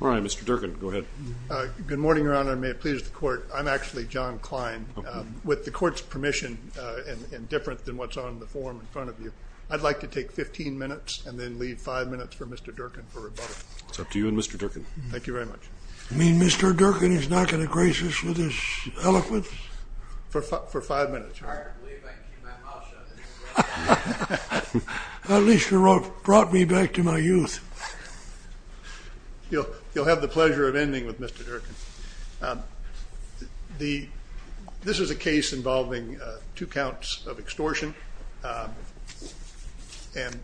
All right, Mr. Durkin, go ahead. Good morning, Your Honor, and may it please the Court. I'm actually John Klein. With the Court's permission, and different than what's on the form in front of you, I'd like to take 15 minutes and then leave 5 minutes for Mr. Durkin for rebuttal. It's up to you and Mr. Durkin. Thank you very much. You mean Mr. Durkin is not going to grace us with his eloquence? For 5 minutes, Your Honor. It's hard to believe I can keep my mouth shut. At least you brought me back to my youth. You'll have the pleasure of ending with Mr. Durkin. This is a case involving two counts of extortion, and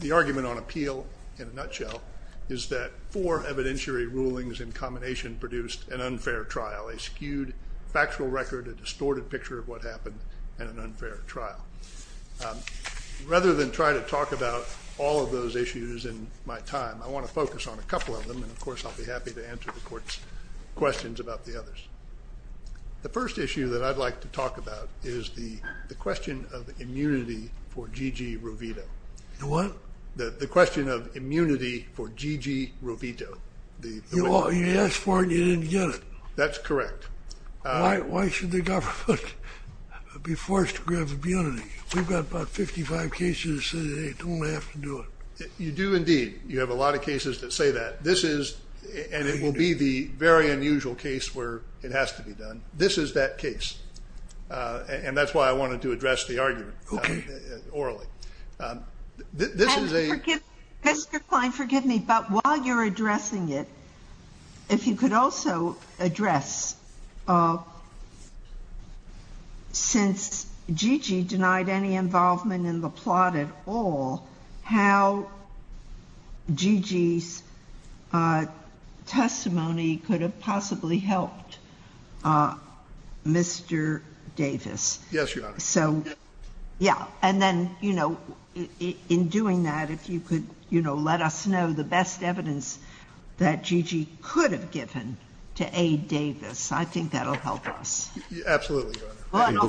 the argument on appeal, in a nutshell, is that four evidentiary rulings in combination produced an unfair trial, a skewed factual record, a distorted picture of what happened, and an unfair trial. Rather than try to talk about all of those issues in my time, I want to focus on a couple of them, and of course I'll be happy to answer the Court's questions about the others. The first issue that I'd like to talk about is the question of immunity for G.G. Rovito. The what? The question of immunity for G.G. Rovito. You asked for it and you didn't get it. That's correct. Why should the government be forced to grab immunity? We've got about 55 cases that say they don't have to do it. You do indeed. You have a lot of cases that say that. And it will be the very unusual case where it has to be done. This is that case, and that's why I wanted to address the argument orally. Mr. Klein, forgive me, but while you're addressing it, if you could also address, since G.G. denied any involvement in the plot at all, how G.G.'s testimony could have possibly helped Mr. Davis. Yes, Your Honor. And then, you know, in doing that, if you could let us know the best evidence that G.G. could have given to aid Davis, I think that will help us. Absolutely, Your Honor.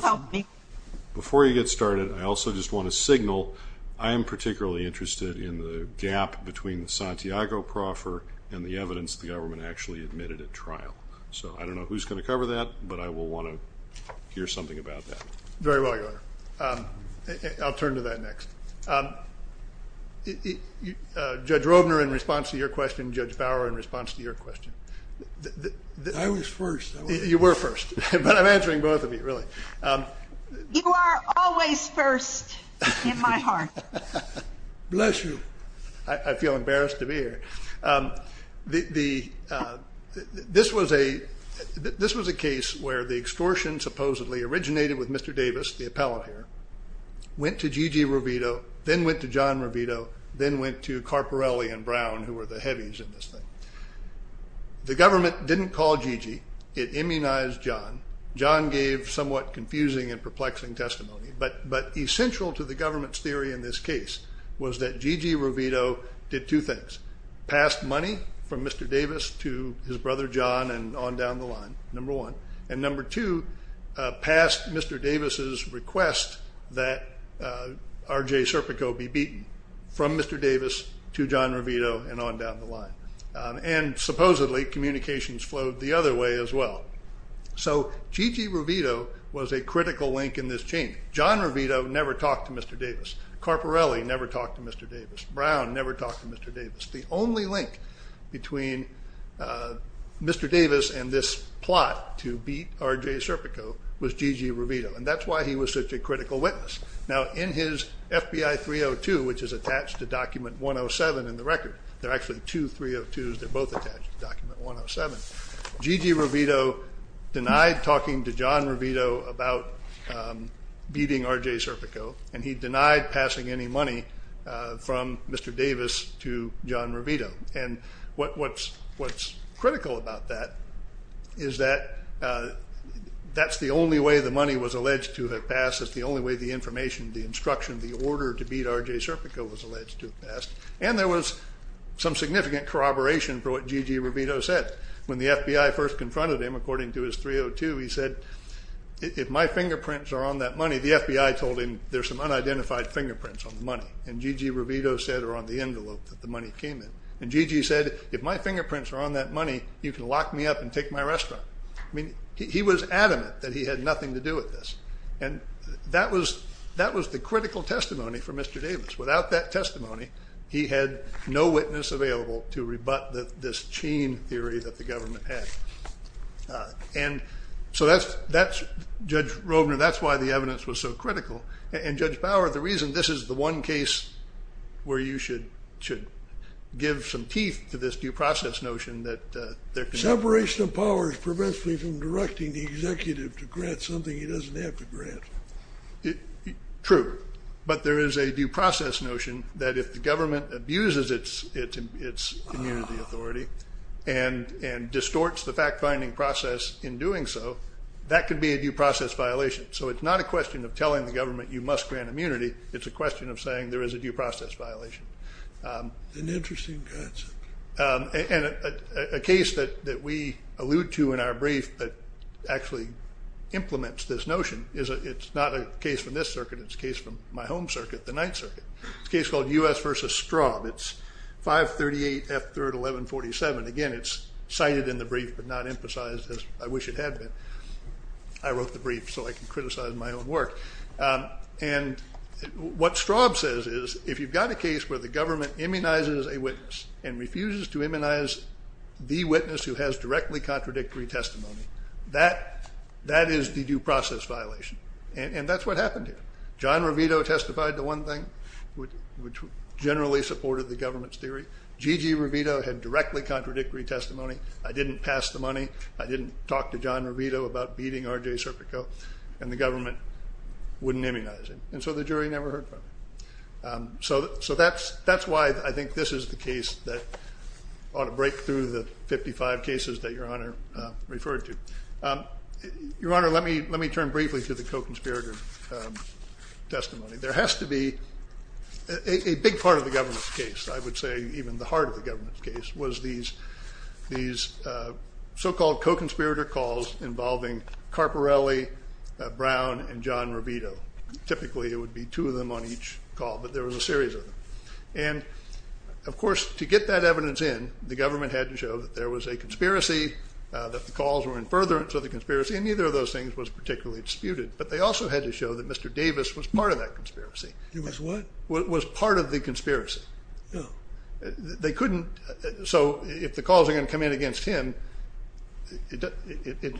Before you get started, I also just want to signal, I am particularly interested in the gap between the Santiago proffer and the evidence the government actually admitted at trial. So I don't know who's going to cover that, but I will want to hear something about that. Very well, Your Honor. I'll turn to that next. Judge Robner, in response to your question, Judge Bower, in response to your question. I was first. You were first, but I'm answering both of you, really. You are always first in my heart. Bless you. I feel embarrassed to be here. This was a case where the extortion supposedly originated with Mr. Davis, the appellate here, went to G.G. Rovito, then went to John Rovito, then went to Carparelli and Brown, who were the heavies in this thing. The government didn't call G.G. It immunized John. John gave somewhat confusing and perplexing testimony, but essential to the government's theory in this case was that G.G. Rovito did two things. Passed money from Mr. Davis to his brother John and on down the line, number one. And number two, passed Mr. Davis' request that R.J. Serpico be beaten from Mr. Davis to John Rovito and on down the line. And supposedly communications flowed the other way as well. So G.G. Rovito was a critical link in this chain. John Rovito never talked to Mr. Davis. Carparelli never talked to Mr. Davis. Brown never talked to Mr. Davis. The only link between Mr. Davis and this plot to beat R.J. Serpico was G.G. Rovito, and that's why he was such a critical witness. Now, in his FBI 302, which is attached to Document 107 in the record, there are actually two 302s that are both attached to Document 107, G.G. Rovito denied talking to John Rovito about beating R.J. Serpico, and he denied passing any money from Mr. Davis to John Rovito. And what's critical about that is that that's the only way the money was alleged to have passed. It's the only way the information, the instruction, the order to beat R.J. Serpico was alleged to have passed. And there was some significant corroboration for what G.G. Rovito said. When the FBI first confronted him, according to his 302, he said, if my fingerprints are on that money, the FBI told him there's some unidentified fingerprints on the money, and G.G. Rovito said they're on the envelope that the money came in. And G.G. said, if my fingerprints are on that money, you can lock me up and take my restaurant. I mean, he was adamant that he had nothing to do with this. And that was the critical testimony for Mr. Davis. Without that testimony, he had no witness available to rebut this chain theory that the government had. And so that's, Judge Rovner, that's why the evidence was so critical. And, Judge Bauer, the reason this is the one case where you should give some teeth to this due process notion that there can be. Separation of powers prevents me from directing the executive to grant something he doesn't have to grant. True. But there is a due process notion that if the government abuses its immunity authority and distorts the fact-finding process in doing so, that could be a due process violation. So it's not a question of telling the government you must grant immunity. It's a question of saying there is a due process violation. An interesting concept. And a case that we allude to in our brief that actually implements this notion is it's not a case from this circuit. It's a case from my home circuit, the Ninth Circuit. It's a case called U.S. v. Straub. It's 538F3-1147. Again, it's cited in the brief but not emphasized as I wish it had been. I wrote the brief so I can criticize my own work. And what Straub says is if you've got a case where the government immunizes a witness and refuses to immunize the witness who has directly contradictory testimony, that is the due process violation. And that's what happened here. John Ravito testified to one thing, which generally supported the government's theory. G.G. Ravito had directly contradictory testimony. I didn't pass the money. I didn't talk to John Ravito about beating R.J. Serpico. And the government wouldn't immunize him. And so the jury never heard from him. So that's why I think this is the case that ought to break through the 55 cases that Your Honor referred to. Your Honor, let me turn briefly to the co-conspirator testimony. There has to be a big part of the government's case, I would say even the heart of the government's case, was these so-called co-conspirator calls involving Carparelli, Brown, and John Ravito. Typically it would be two of them on each call, but there was a series of them. And, of course, to get that evidence in, the government had to show that there was a conspiracy, that the calls were in furtherance of the conspiracy, and neither of those things was particularly disputed. But they also had to show that Mr. Davis was part of that conspiracy. He was what? Was part of the conspiracy. Oh. They couldn't. So if the calls are going to come in against him, it doesn't.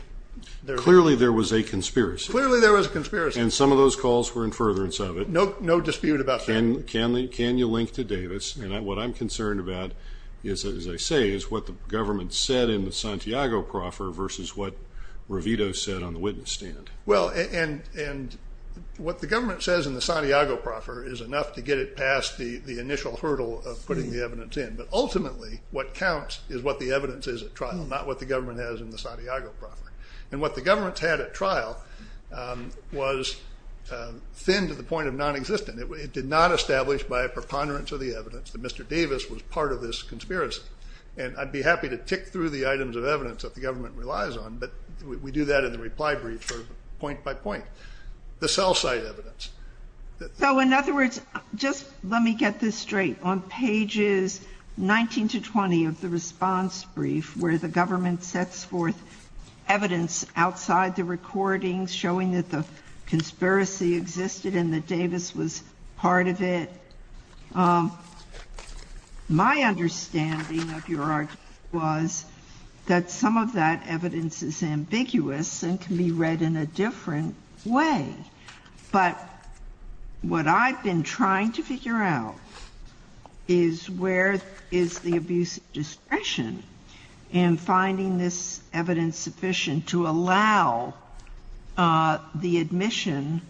Clearly there was a conspiracy. Clearly there was a conspiracy. And some of those calls were in furtherance of it. No dispute about that. Can you link to Davis? And what I'm concerned about, as I say, is what the government said in the Santiago proffer versus what Ravito said on the witness stand. Well, and what the government says in the Santiago proffer is enough to get it past the initial hurdle of putting the evidence in. But ultimately what counts is what the evidence is at trial, not what the government has in the Santiago proffer. And what the government's had at trial was thin to the point of nonexistent. It did not establish by a preponderance of the evidence that Mr. Davis was part of this conspiracy. And I'd be happy to tick through the items of evidence that the government relies on, but we do that in the reply brief point by point. The cell site evidence. So in other words, just let me get this straight. On pages 19 to 20 of the response brief where the government sets forth evidence outside the recordings showing that the conspiracy existed and that Davis was part of it, my understanding of your argument was that some of that evidence is ambiguous and can be read in a different way. But what I've been trying to figure out is where is the abuse of discretion in finding this evidence sufficient to allow the admission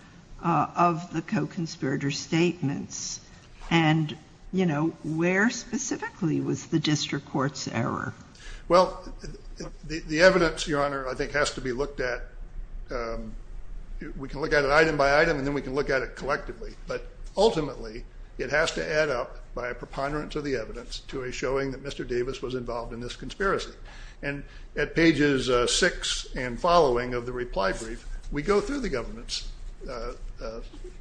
of the co-conspirator statements? And, you know, where specifically was the district court's error? Well, the evidence, Your Honor, I think has to be looked at. We can look at it item by item and then we can look at it collectively. But ultimately it has to add up by a preponderance of the evidence to a showing that Mr. Davis was involved in this conspiracy. And at pages 6 and following of the reply brief, we go through the government's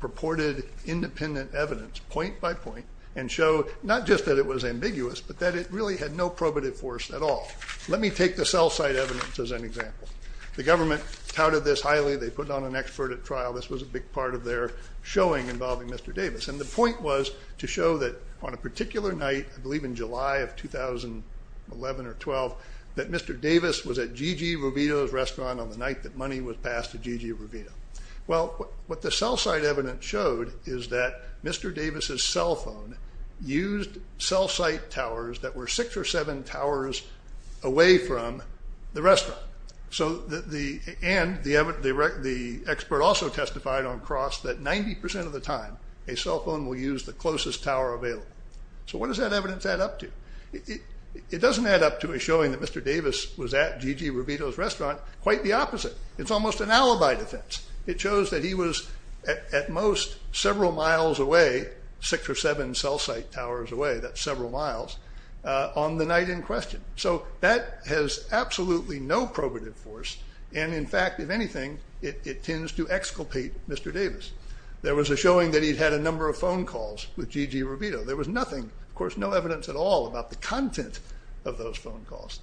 purported independent evidence point by point and show not just that it was ambiguous but that it really had no probative force at all. Let me take the cell site evidence as an example. The government touted this highly. They put on an expert at trial. This was a big part of their showing involving Mr. Davis. And the point was to show that on a particular night, I believe in July of 2011 or 12, that Mr. Davis was at G.G. Rovito's restaurant on the night that money was passed to G.G. Rovito. Well, what the cell site evidence showed is that Mr. Davis's cell phone used cell site towers that were six or seven towers away from the restaurant. And the expert also testified on cross that 90% of the time a cell phone will use the closest tower available. So what does that evidence add up to? It doesn't add up to a showing that Mr. Davis was at G.G. Rovito's restaurant. Quite the opposite. It's almost an alibi defense. It shows that he was at most several miles away, six or seven cell site towers away, that's several miles, on the night in question. So that has absolutely no probative force. And, in fact, if anything, it tends to exculpate Mr. Davis. There was a showing that he'd had a number of phone calls with G.G. Rovito. There was nothing, of course, no evidence at all about the content of those phone calls.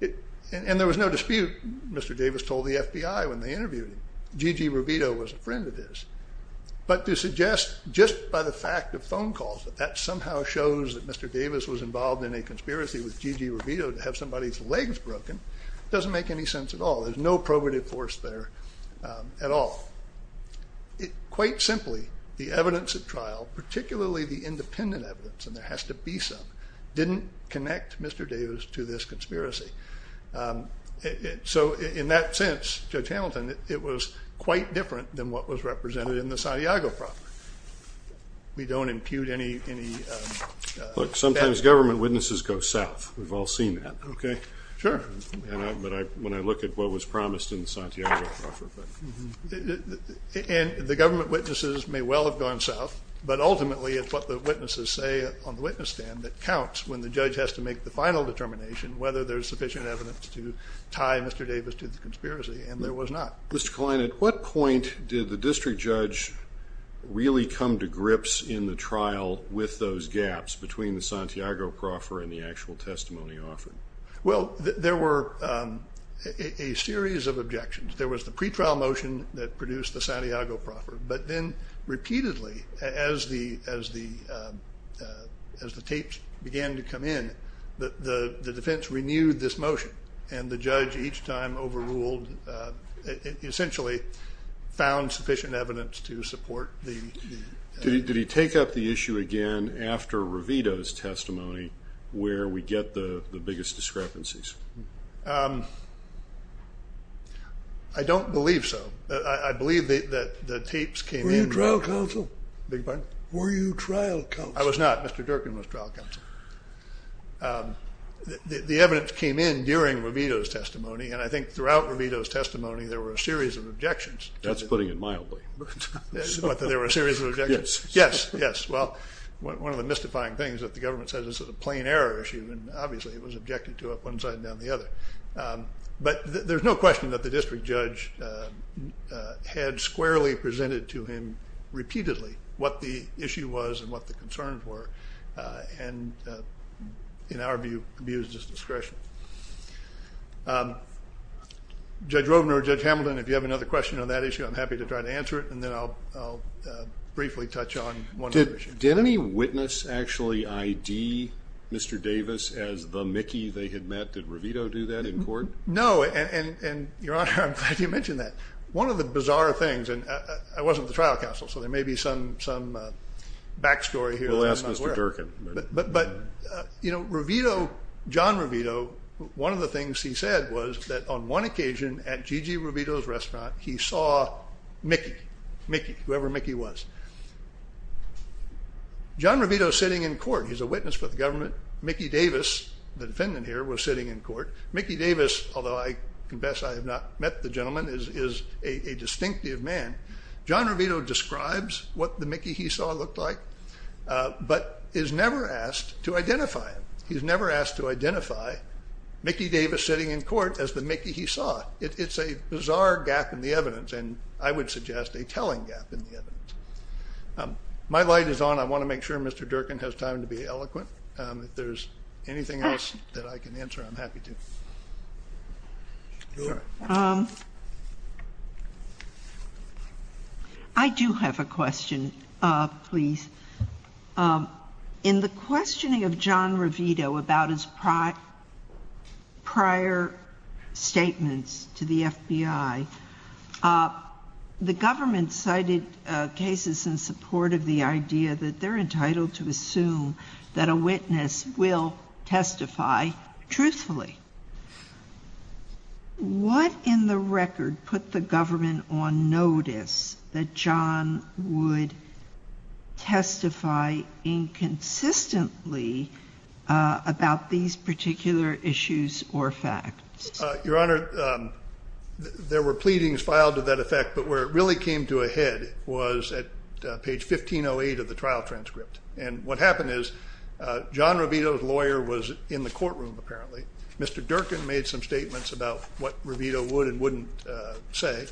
And there was no dispute, Mr. Davis told the FBI when they interviewed him. G.G. Rovito was a friend of his. But to suggest just by the fact of phone calls that that somehow shows that Mr. Davis was involved in a conspiracy with G.G. Rovito to have somebody's legs broken doesn't make any sense at all. There's no probative force there at all. Quite simply, the evidence at trial, particularly the independent evidence, and there has to be some, didn't connect Mr. Davis to this conspiracy. So in that sense, Judge Hamilton, it was quite different than what was represented in the Santiago problem. We don't impute any facts. Sometimes government witnesses go south. We've all seen that. Okay? Sure. But when I look at what was promised in the Santiago problem. And the government witnesses may well have gone south, but ultimately it's what the witnesses say on the witness stand that counts when the judge has to make the final determination whether there's sufficient evidence to tie Mr. Davis to the conspiracy, and there was not. Mr. Kline, at what point did the district judge really come to grips in the trial with those gaps between the Santiago proffer and the actual testimony offered? Well, there were a series of objections. There was the pretrial motion that produced the Santiago proffer, but then repeatedly as the tapes began to come in, the defense renewed this motion, and the judge each time overruled, essentially found sufficient evidence to support the. Did he take up the issue again after Revito's testimony where we get the biggest discrepancies? I don't believe so. I believe that the tapes came in. Were you trial counsel? I beg your pardon? Were you trial counsel? I was not. Mr. Durkin was trial counsel. The evidence came in during Revito's testimony, and I think throughout Revito's testimony there were a series of objections. That's putting it mildly. There were a series of objections? Yes. Yes, yes. Well, one of the mystifying things that the government says is that it's a plain error issue, and obviously it was objected to up one side and down the other. But there's no question that the district judge had squarely presented to him repeatedly what the issue was and what the concerns were and, in our view, abused his discretion. Judge Rovner, Judge Hamilton, if you have another question on that issue, I'm happy to try to answer it, and then I'll briefly touch on one other issue. Did any witness actually ID Mr. Davis as the Mickey they had met? Did Revito do that in court? No, and, Your Honor, I'm glad you mentioned that. One of the bizarre things, and I wasn't the trial counsel, so there may be some back story here that I'm not aware of. We'll ask Mr. Durkin. But, you know, Revito, John Revito, one of the things he said was that on one occasion at Gigi Revito's restaurant he saw Mickey, Mickey, whoever Mickey was. John Revito is sitting in court. He's a witness for the government. Mickey Davis, the defendant here, was sitting in court. Mickey Davis, although I confess I have not met the gentleman, is a distinctive man. John Revito describes what the Mickey he saw looked like, but is never asked to identify him. He's never asked to identify Mickey Davis sitting in court as the Mickey he saw. It's a bizarre gap in the evidence, and I would suggest a telling gap in the evidence. My light is on. I want to make sure Mr. Durkin has time to be eloquent. If there's anything else that I can answer, I'm happy to. I do have a question, please. In the questioning of John Revito about his prior statements to the FBI, the government cited cases in support of the idea that they're entitled to assume that a witness will testify truthfully. What in the record put the government on notice that John would testify inconsistently about these particular issues or facts? Your Honor, there were pleadings filed to that effect, but where it really came to a head was at page 1508 of the trial transcript. And what happened is John Revito's lawyer was in the courtroom, apparently. Mr. Durkin made some statements about what Revito would and wouldn't say.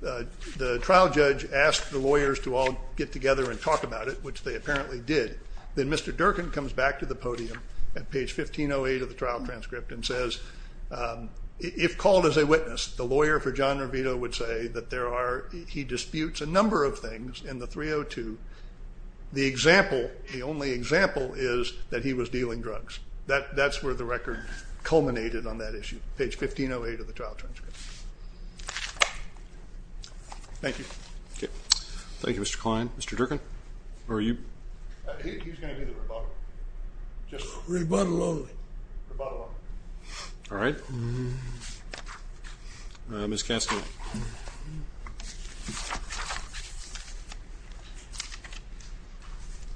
The trial judge asked the lawyers to all get together and talk about it, which they apparently did. Then Mr. Durkin comes back to the podium at page 1508 of the trial transcript and says, if called as a witness, the lawyer for John Revito would say that there are he disputes a number of things in the 302. The example, the only example, is that he was dealing drugs. That's where the record culminated on that issue, page 1508 of the trial transcript. Thank you. Thank you, Mr. Kline. Mr. Durkin? He's going to do the rebuttal. Rebuttal only. Rebuttal only. All right. Ms. Kastner?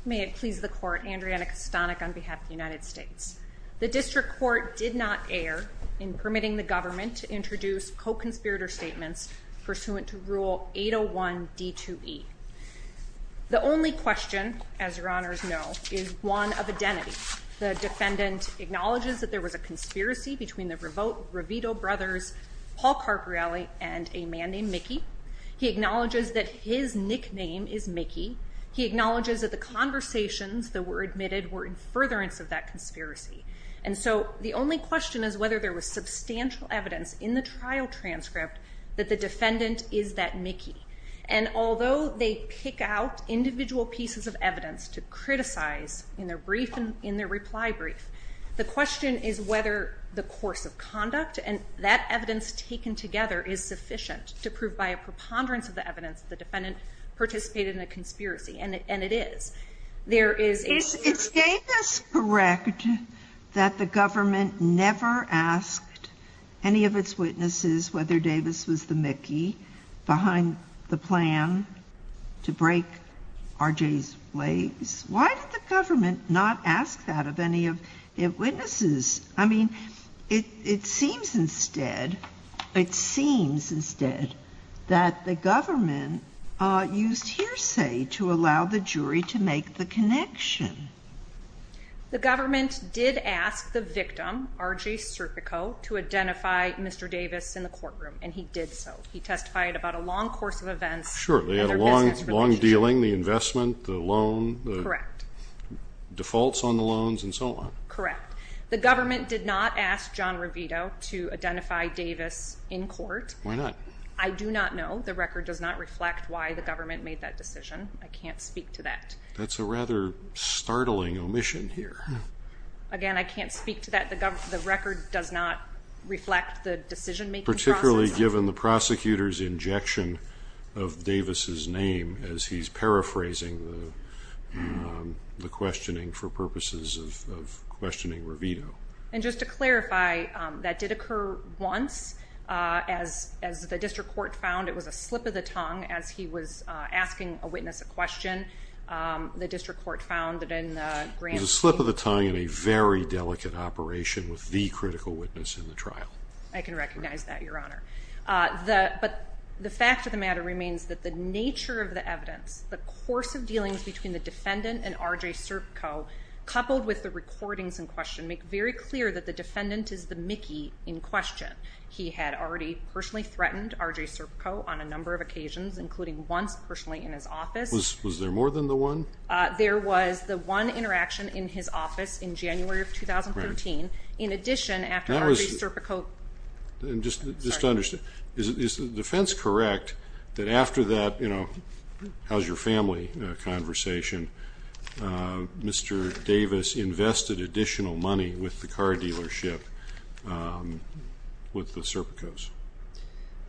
May it please the court, Andriana Kastanek on behalf of the United States. The district court did not err in permitting the government to introduce co-conspirator statements pursuant to Rule 801 D2E. The only question, as your honors know, is one of identity. The defendant acknowledges that there was a conspiracy between the Revito brothers, Paul Carparelli, and a man named Mickey. He acknowledges that his nickname is Mickey. He acknowledges that the conversations that were admitted were in furtherance of that conspiracy. And so the only question is whether there was substantial evidence in the trial transcript that the defendant is that Mickey. And although they pick out individual pieces of evidence to criticize in their brief and in their reply brief, the question is whether the course of conduct and that evidence taken together is sufficient to prove by a preponderance of the evidence that the defendant participated in a conspiracy. And it is. There is a... Is Davis correct that the government never asked any of its witnesses whether Davis was the Mickey behind the plan to break R.J.'s legs? Why did the government not ask that of any of its witnesses? I mean, it seems instead, it seems instead that the government used hearsay to allow the jury to make the connection. The government did ask the victim, R.J. Serpico, to identify Mr. Davis in the courtroom, and he did so. He testified about a long course of events in their business relationship. Sure, they had a long dealing, the investment, the loan, the defaults on the loans, and so on. Correct. The government did not ask John Revito to identify Davis in court. Why not? I do not know. The record does not reflect why the government made that decision. I can't speak to that. That's a rather startling omission here. Again, I can't speak to that. The record does not reflect the decision-making process. Clearly, given the prosecutor's injection of Davis' name as he's paraphrasing the questioning for purposes of questioning Revito. And just to clarify, that did occur once. As the district court found, it was a slip of the tongue as he was asking a witness a question. The district court found that in Grant's case. It was a slip of the tongue in a very delicate operation with the critical witness in the trial. I can recognize that, Your Honor. But the fact of the matter remains that the nature of the evidence, the course of dealings between the defendant and R.J. Serpico, coupled with the recordings in question, make very clear that the defendant is the Mickey in question. He had already personally threatened R.J. Serpico on a number of occasions, including once personally in his office. Was there more than the one? There was the one interaction in his office in January of 2013. In addition, after R.J. Serpico. Just to understand, is the defense correct that after that, you know, how's your family conversation, Mr. Davis invested additional money with the car dealership with the Serpicos?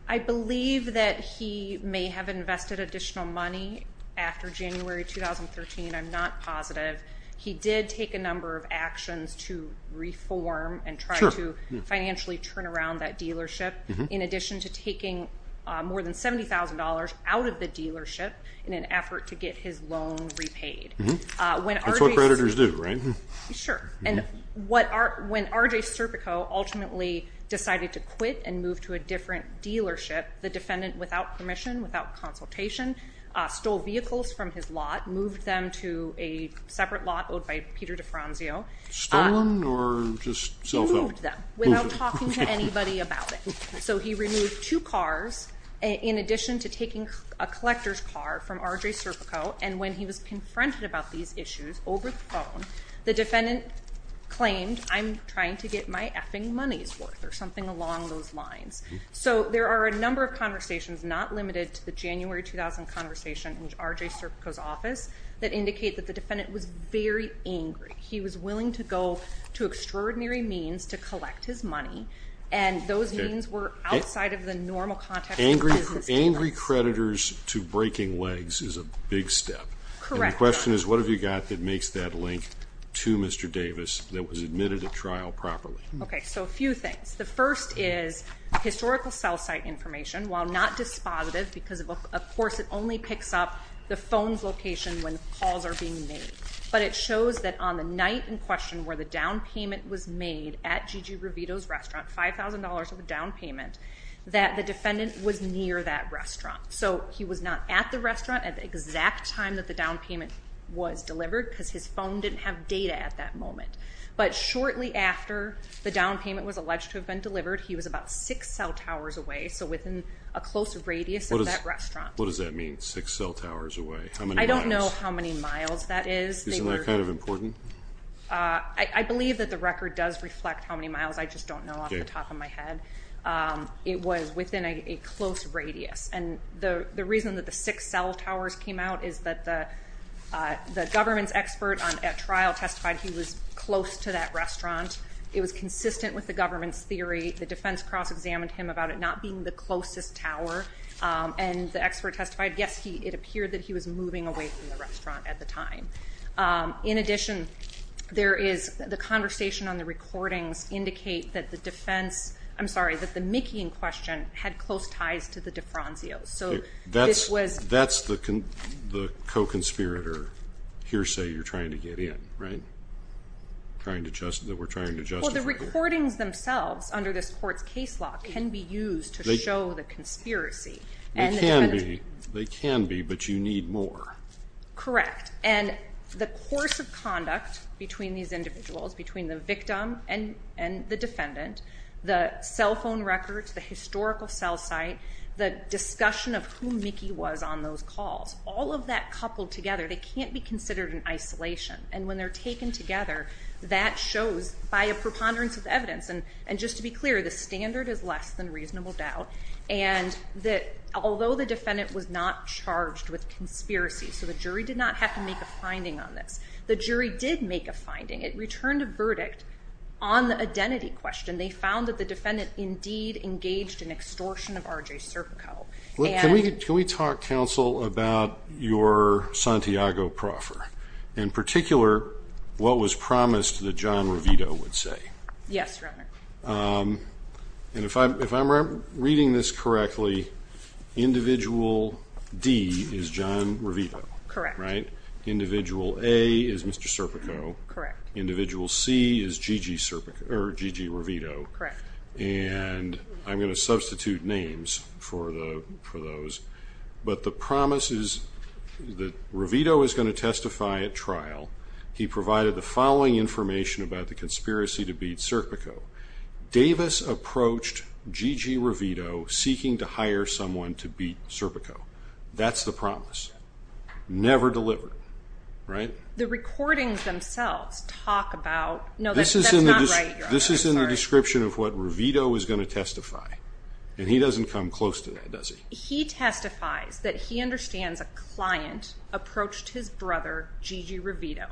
I believe that he may have invested additional money after January 2013. I'm not positive. He did take a number of actions to reform and try to financially turn around that dealership, in addition to taking more than $70,000 out of the dealership in an effort to get his loan repaid. That's what creditors do, right? Sure. And when R.J. Serpico ultimately decided to quit and move to a different dealership, the defendant, without permission, without consultation, stole vehicles from his lot, moved them to a separate lot owed by Peter DeFranzio. Stolen or just self-owned? He moved them without talking to anybody about it. So he removed two cars in addition to taking a collector's car from R.J. Serpico, and when he was confronted about these issues over the phone, the defendant claimed, I'm trying to get my effing money's worth or something along those lines. So there are a number of conversations, not limited to the January 2000 conversation in R.J. Serpico's office, that indicate that the defendant was very angry. He was willing to go to extraordinary means to collect his money, and those means were outside of the normal context of business. Angry creditors to breaking legs is a big step. Correct. And the question is, what have you got that makes that link to Mr. Davis that was admitted to trial properly? Okay, so a few things. The first is historical cell site information. While not dispositive because, of course, it only picks up the phone's location when calls are being made, but it shows that on the night in question where the down payment was made at G.G. Ravito's restaurant, $5,000 of a down payment, that the defendant was near that restaurant. So he was not at the restaurant at the exact time that the down payment was delivered because his phone didn't have data at that moment. But shortly after the down payment was alleged to have been delivered, he was about six cell towers away, so within a close radius of that restaurant. What does that mean, six cell towers away? How many miles? I don't know how many miles that is. Isn't that kind of important? I believe that the record does reflect how many miles. I just don't know off the top of my head. It was within a close radius. And the reason that the six cell towers came out is that the government's expert at trial testified he was close to that restaurant. It was consistent with the government's theory. The defense cross-examined him about it not being the closest tower, and the expert testified, yes, it appeared that he was moving away from the restaurant at the time. In addition, the conversation on the recordings indicate that the defense, I'm sorry, that the Mickey in question had close ties to the DeFranzios. That's the co-conspirator hearsay you're trying to get in, right, that we're trying to justify here? Well, the recordings themselves under this court's case law can be used to show the conspiracy. They can be, but you need more. Correct. And the course of conduct between these individuals, between the victim and the defendant, the cell phone records, the historical cell site, the discussion of who Mickey was on those calls, all of that coupled together, they can't be considered in isolation. And when they're taken together, that shows, by a preponderance of evidence, and just to be clear, the standard is less than reasonable doubt, and that although the defendant was not charged with conspiracy, so the jury did not have to make a finding on this, the jury did make a finding. It returned a verdict on the identity question. They found that the defendant indeed engaged in extortion of R.J. Serpico. Can we talk, counsel, about your Santiago proffer, in particular what was promised that John Revito would say? Yes, Your Honor. And if I'm reading this correctly, individual D is John Revito, right? Correct. Individual A is Mr. Serpico. Correct. Individual C is G.G. Serpico, or G.G. Revito. Correct. And I'm going to substitute names for those. But the promise is that Revito is going to testify at trial. He provided the following information about the conspiracy to beat Serpico. Davis approached G.G. Revito seeking to hire someone to beat Serpico. That's the promise. Never delivered, right? The recordings themselves talk about no, that's not right, Your Honor. This is in the description of what Revito is going to testify. And he doesn't come close to that, does he? He testifies that he understands a client approached his brother, G.G. Revito,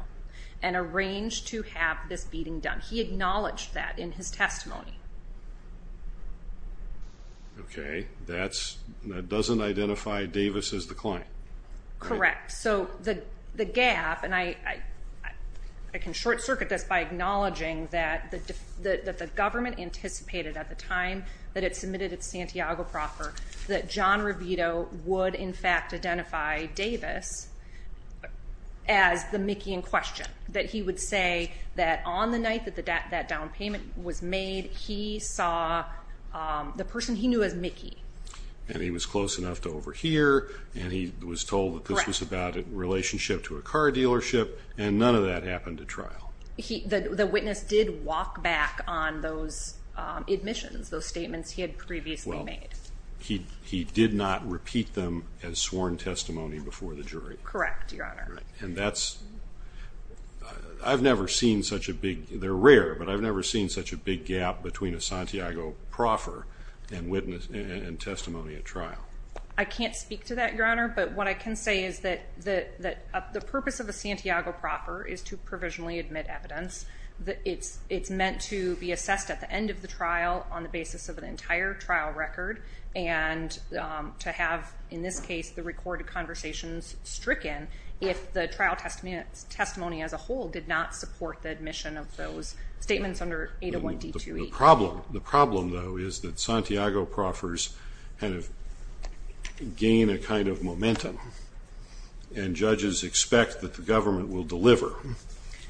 and arranged to have this beating done. He acknowledged that in his testimony. Okay. That doesn't identify Davis as the client. Correct. So the gap, and I can short circuit this by acknowledging that the government anticipated at the time that it submitted its Santiago proffer that John Revito would, in fact, identify Davis as the Mickey in question. That he would say that on the night that that down payment was made, he saw the person he knew as Mickey. And he was close enough to overhear, and he was told that this was about a relationship to a car dealership, and none of that happened at trial. The witness did walk back on those admissions, those statements he had previously made. Well, he did not repeat them as sworn testimony before the jury. Correct, Your Honor. And that's, I've never seen such a big, they're rare, but I've never seen such a big gap between a Santiago proffer and testimony at trial. I can't speak to that, Your Honor, but what I can say is that the purpose of a Santiago proffer is to provisionally admit evidence. It's meant to be assessed at the end of the trial on the basis of an entire trial record, and to have, in this case, the recorded conversations stricken if the trial testimony as a whole did not support the admission of those statements under 801D2E. The problem, though, is that Santiago proffers kind of gain a kind of momentum, and judges expect that the government will deliver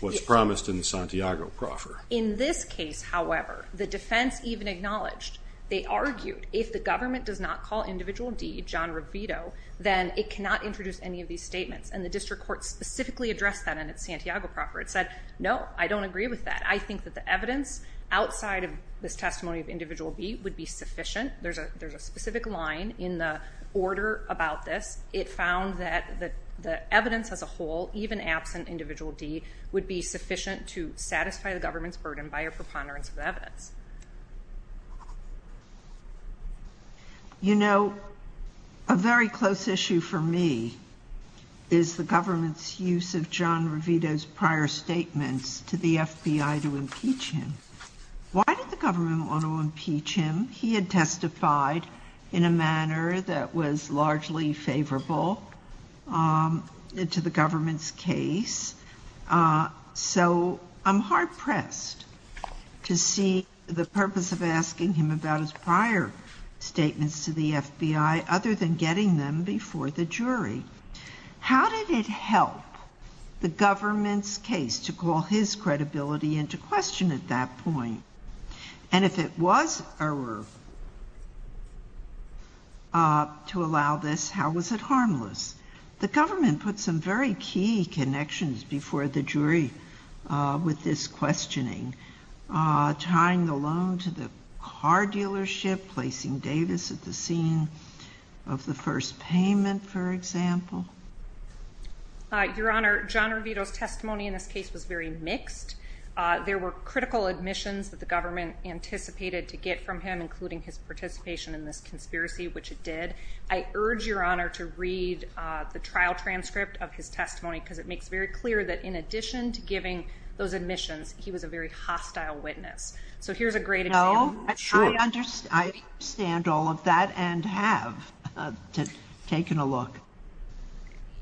what's promised in the Santiago proffer. In this case, however, the defense even acknowledged, they argued, if the government does not call individual D, John Revito, then it cannot introduce any of these statements. And the district court specifically addressed that in its Santiago proffer. It said, no, I don't agree with that. I think that the evidence outside of this testimony of individual B would be sufficient. There's a specific line in the order about this. It found that the evidence as a whole, even absent individual D, would be sufficient to satisfy the government's burden by a preponderance of evidence. You know, a very close issue for me is the government's use of John Revito to impeach him. Why did the government want to impeach him? He had testified in a manner that was largely favorable to the government's case. So I'm hard pressed to see the purpose of asking him about his prior statements to the FBI, other than getting them before the jury. How did it help the government's case to call his credibility into question at that point? And if it was error to allow this, how was it harmless? The government put some very key connections before the jury with this questioning, tying the loan to the car dealership, placing Davis at the scene of the first payment, for example. Your Honor, John Revito's testimony in this case was very mixed. There were critical admissions that the government anticipated to get from him, including his participation in this conspiracy, which it did. I urge Your Honor to read the trial transcript of his testimony, because it makes very clear that in addition to giving those admissions, he was a very hostile witness. So here's a great example. I understand all of that and have taken a look.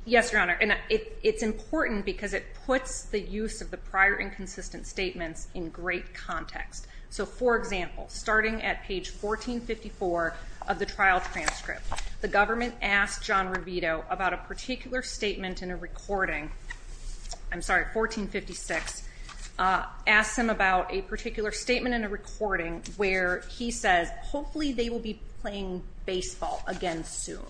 Yes, Your Honor, and it's important because it puts the use of the prior inconsistent statements in great context. So, for example, starting at page 1454 of the trial transcript, the government asked John Revito about a particular statement in a recording, I'm sorry, 1456, asked him about a particular statement in a recording where he says, hopefully they will be playing baseball again soon.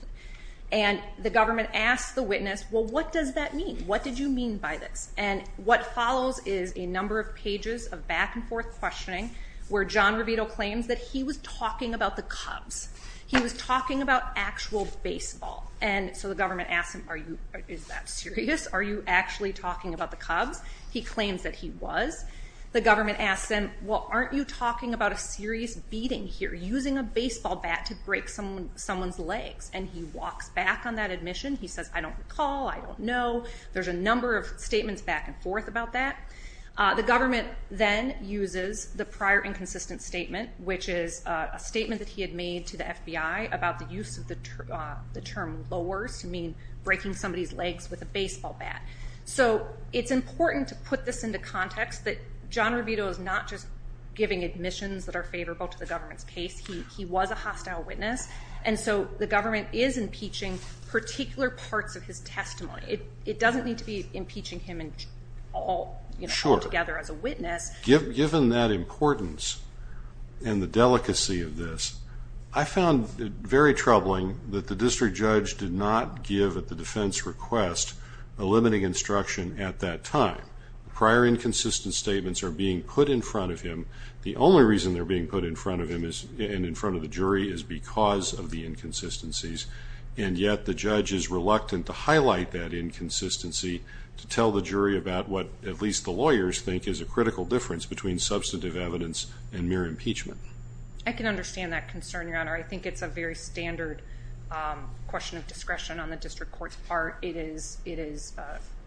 And the government asked the witness, well, what does that mean? What did you mean by this? And what follows is a number of pages of back-and-forth questioning where John Revito claims that he was talking about the Cubs. He was talking about actual baseball. And so the government asked him, is that serious? Are you actually talking about the Cubs? He claims that he was. The government asks him, well, aren't you talking about a serious beating here, using a baseball bat to break someone's legs? And he walks back on that admission. He says, I don't recall, I don't know. There's a number of statements back-and-forth about that. The government then uses the prior inconsistent statement, which is a statement that he had made to the FBI about the use of the term lowers to mean breaking somebody's legs with a baseball bat. So it's important to put this into context that John Revito is not just giving admissions that are favorable to the government's case. He was a hostile witness. And so the government is impeaching particular parts of his testimony. It doesn't need to be impeaching him altogether as a witness. Sure. Given that importance and the delicacy of this, I found it very troubling that the district judge did not give at the defense request a limiting instruction at that time. Prior inconsistent statements are being put in front of him. The only reason they're being put in front of him and in front of the jury is because of the inconsistencies. And yet the judge is reluctant to highlight that inconsistency to tell the jury about what at least the lawyers think is a critical difference between I can understand that concern, Your Honor. I think it's a very standard question of discretion on the district court's part. It is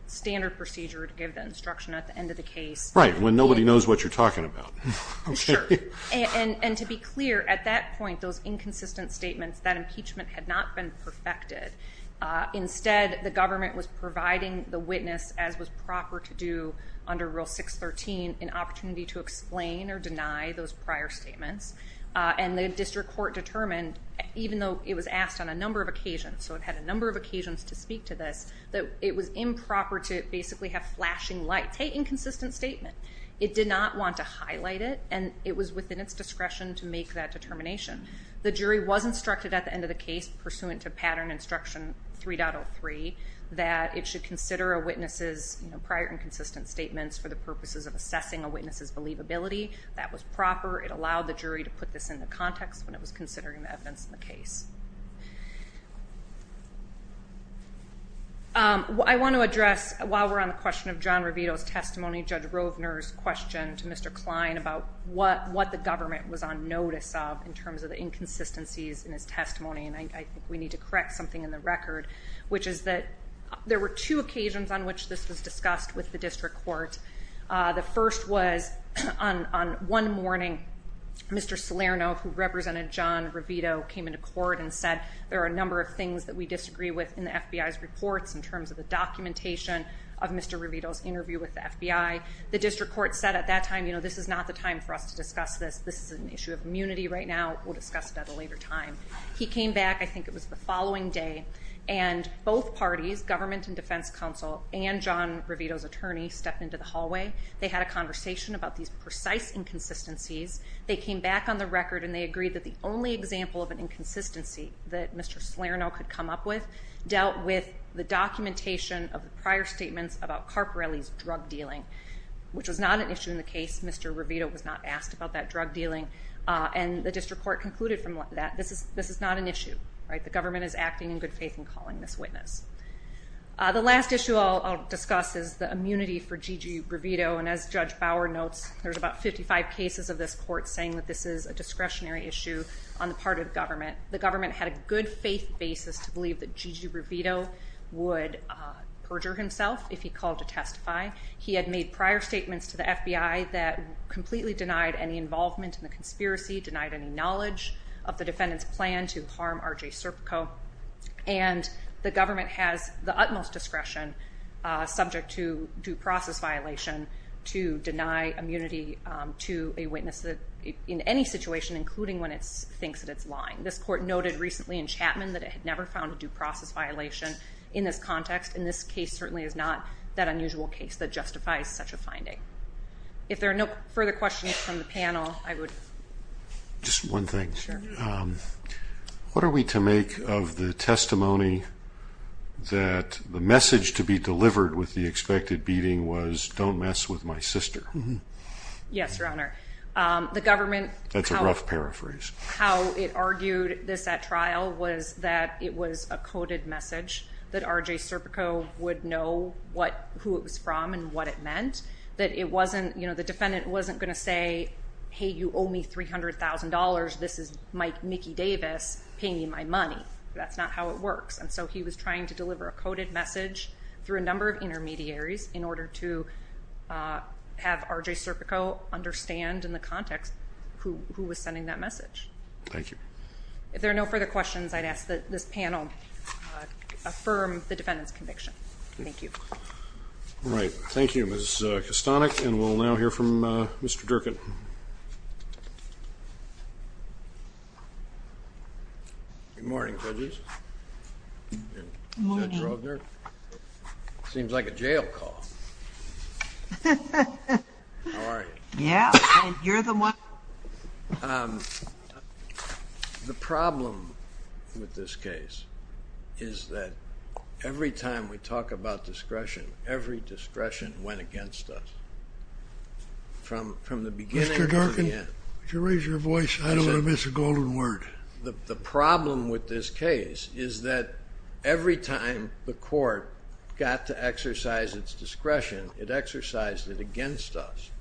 standard procedure to give the instruction at the end of the case. Right, when nobody knows what you're talking about. Sure. And to be clear, at that point, those inconsistent statements that impeachment had not been perfected. Instead, the government was providing the witness, as was proper to do under Rule 613, an opportunity to explain or deny those prior statements. And the district court determined, even though it was asked on a number of occasions, so it had a number of occasions to speak to this, that it was improper to basically have flashing lights. Hey, inconsistent statement. It did not want to highlight it, and it was within its discretion to make that determination. The jury was instructed at the end of the case, pursuant to Pattern Instruction 3.03, that it should consider a witness's prior inconsistent statements for the purposes of assessing a witness's believability. That was proper. It allowed the jury to put this into context when it was considering the evidence in the case. I want to address, while we're on the question of John Revito's testimony, Judge Rovner's question to Mr. Klein about what the government was on notice of in terms of the inconsistencies in his testimony. And I think we need to correct something in the record, which is that there were two occasions on which this was discussed with the district court. The first was on one morning, Mr. Salerno, who represented John Revito, came into court and said, there are a number of things that we disagree with in the FBI's reports in terms of the documentation of Mr. Revito's interview with the FBI. The district court said at that time, you know, this is not the time for us to discuss this. This is an issue of immunity right now. We'll discuss it at a later time. He came back, I think it was the following day, and both parties, government and defense counsel and John Revito's attorney, stepped into the hallway. They had a conversation about these precise inconsistencies. They came back on the record and they agreed that the only example of an inconsistency that Mr. Salerno could come up with dealt with the documentation of the prior statements about Carparelli's drug dealing, which was not an issue in the case. Mr. Revito was not asked about that drug dealing. And the district court concluded from that, this is not an issue. The government is acting in good faith and calling this witness. The last issue I'll discuss is the immunity for Gigi Revito. And as Judge Bauer notes, there's about 55 cases of this court saying that this is a discretionary issue on the part of the government. The government had a good faith basis to believe that Gigi Revito would perjure himself if he called to testify. He had made prior statements to the FBI that completely denied any involvement in the conspiracy, denied any knowledge of the defendant's plan to harm RJ Serpico. And the government has the utmost discretion, subject to due process violation, to deny immunity to a witness in any situation, including when it thinks that it's lying. This court noted recently in Chapman that it had never found a due process violation in this context, and this case certainly is not that unusual case that justifies such a finding. If there are no further questions from the panel, I would... Just one thing. Sure. What are we to make of the testimony that the message to be delivered with the expected beating was, don't mess with my sister? Yes, Your Honor. The government... That's a rough paraphrase. How it argued this at trial was that it was a coded message, that RJ Serpico would know who it was from and what it meant, that it wasn't, you know, the defendant wasn't going to say, hey, you owe me $300,000. This is Mickey Davis paying me my money. That's not how it works. And so he was trying to deliver a coded message through a number of intermediaries in order to have RJ Serpico understand in the context who was sending that message. Thank you. If there are no further questions, I'd ask that this panel affirm the defendant's conviction. Thank you. All right. Thank you, Ms. Kastanek. And we'll now hear from Mr. Durkin. Good morning, judges. Good morning. Seems like a jail call. How are you? Yeah. You're the one. The problem with this case is that every time we talk about discretion, every discretion went against us from the beginning to the end. Mr. Durkin, could you raise your voice? I don't want to miss a golden word. The problem with this case is that every time the court got to exercise its discretion, it exercised it against us.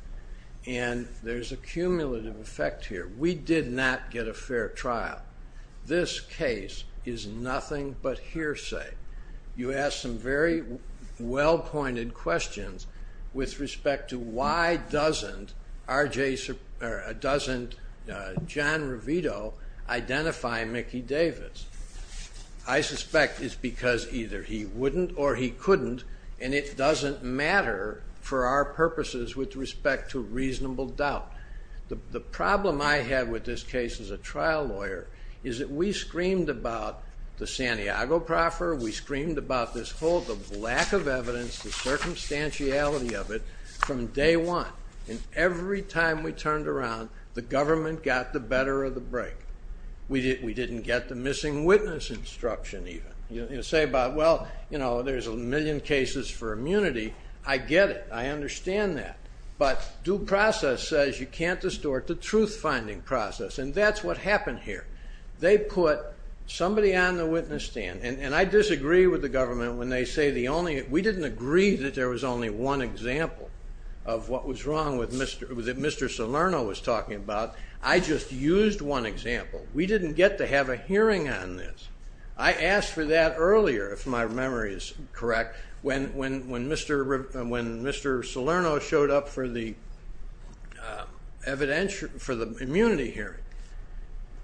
And there's a cumulative effect here. We did not get a fair trial. This case is nothing but hearsay. You asked some very well-pointed questions with respect to why doesn't John Revito identify Mickey Davis. I suspect it's because either he wouldn't or he couldn't, and it doesn't matter for our purposes with respect to reasonable doubt. The problem I had with this case as a trial lawyer is that we screamed about the Santiago proffer. We screamed about this whole lack of evidence, the circumstantiality of it from day one. And every time we turned around, the government got the better of the break. We didn't get the missing witness instruction even. You say about, well, there's a million cases for immunity. I get it. I understand that. But due process says you can't distort the truth-finding process, and that's what happened here. They put somebody on the witness stand, and I disagree with the government when they say we didn't agree that there was only one example of what was wrong that Mr. Salerno was talking about. I just used one example. We didn't get to have a hearing on this. I asked for that earlier, if my memory is correct, when Mr. Salerno showed up for the immunity hearing.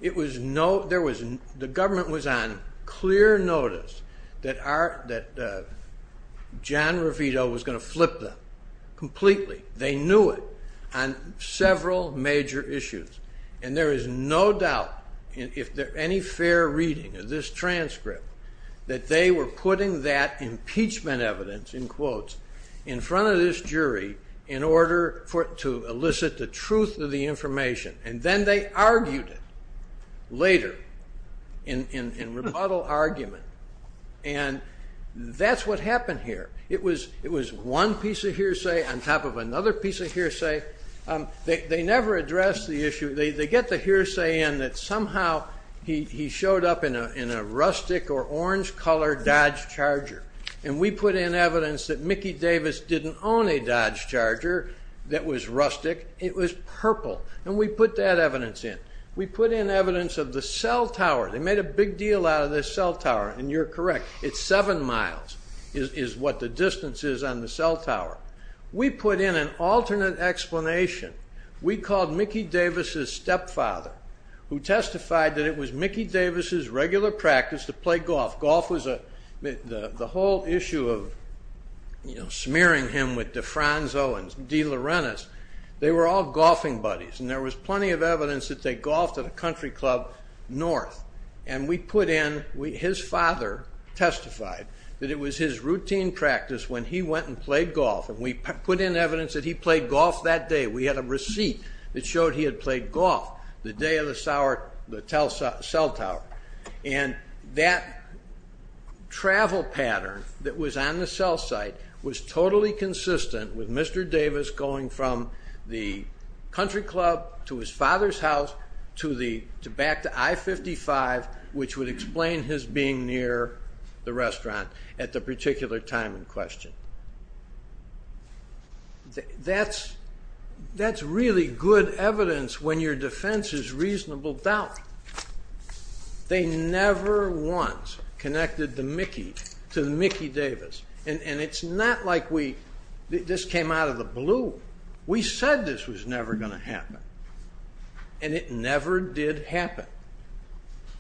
The government was on clear notice that John Revito was going to flip them completely. They knew it on several major issues. And there is no doubt, if there's any fair reading of this transcript, that they were putting that impeachment evidence, in quotes, in front of this jury in order to elicit the truth of the information. And then they argued it later in rebuttal argument. And that's what happened here. It was one piece of hearsay on top of another piece of hearsay. They never addressed the issue. They get the hearsay in that somehow he showed up in a rustic or orange-colored Dodge Charger, and we put in evidence that Mickey Davis didn't own a Dodge Charger that was rustic. It was purple. And we put that evidence in. We put in evidence of the cell tower. They made a big deal out of this cell tower, and you're correct. It's seven miles is what the distance is on the cell tower. We put in an alternate explanation. We called Mickey Davis' stepfather, who testified that it was Mickey Davis' regular practice to play golf. Golf was the whole issue of, you know, smearing him with DeFranco and DeLaurentis. They were all golfing buddies, and there was plenty of evidence that they golfed at a country club north. And we put in, his father testified, that it was his routine practice when he went and played golf. And we put in evidence that he played golf that day. We had a receipt that showed he had played golf the day of the cell tower. And that travel pattern that was on the cell site was totally consistent with Mr. Davis going from the country club to his father's house back to I-55, which would explain his being near the restaurant at the particular time in question. That's really good evidence when your defense is reasonable doubt. They never once connected the Mickey to the Mickey Davis. And it's not like this came out of the blue. We said this was never going to happen, and it never did happen.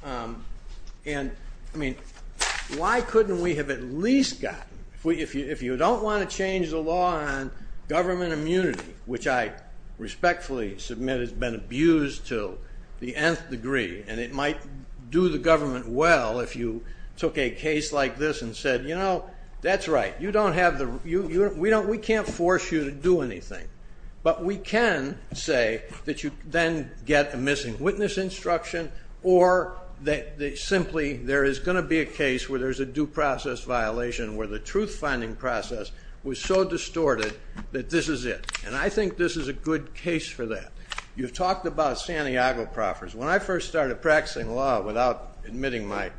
Why couldn't we have at least gotten, if you don't want to change the law on government immunity, which I respectfully submit has been abused to the nth degree, and it might do the government well if you took a case like this and said, you know, that's right, we can't force you to do anything. But we can say that you then get a missing witness instruction or that simply there is going to be a case where there's a due process violation where the truth-finding process was so distorted that this is it. And I think this is a good case for that. You've talked about Santiago proffers. When I first started practicing law without admitting my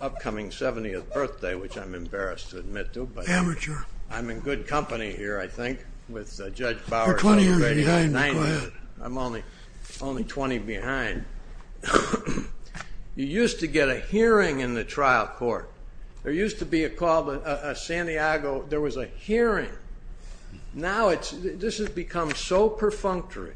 upcoming 70th birthday, which I'm embarrassed to admit to. Amateur. I'm in good company here, I think, with Judge Bowers. You're 20 years behind. I'm only 20 behind. You used to get a hearing in the trial court. There used to be a call to Santiago. There was a hearing. Now this has become so perfunctory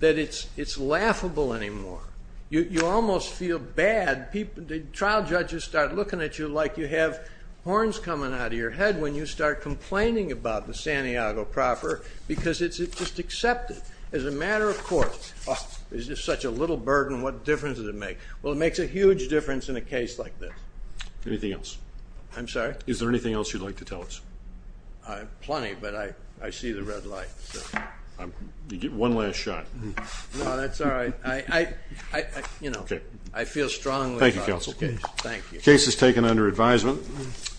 that it's laughable anymore. You almost feel bad. The trial judges start looking at you like you have horns coming out of your head when you start complaining about the Santiago proffer because it's just accepted as a matter of court. It's just such a little burden. What difference does it make? Well, it makes a huge difference in a case like this. Anything else? I'm sorry? Is there anything else you'd like to tell us? Plenty, but I see the red light. You get one last shot. No, that's all right. I feel strongly about this case. Thank you, counsel. The case is taken under advisement.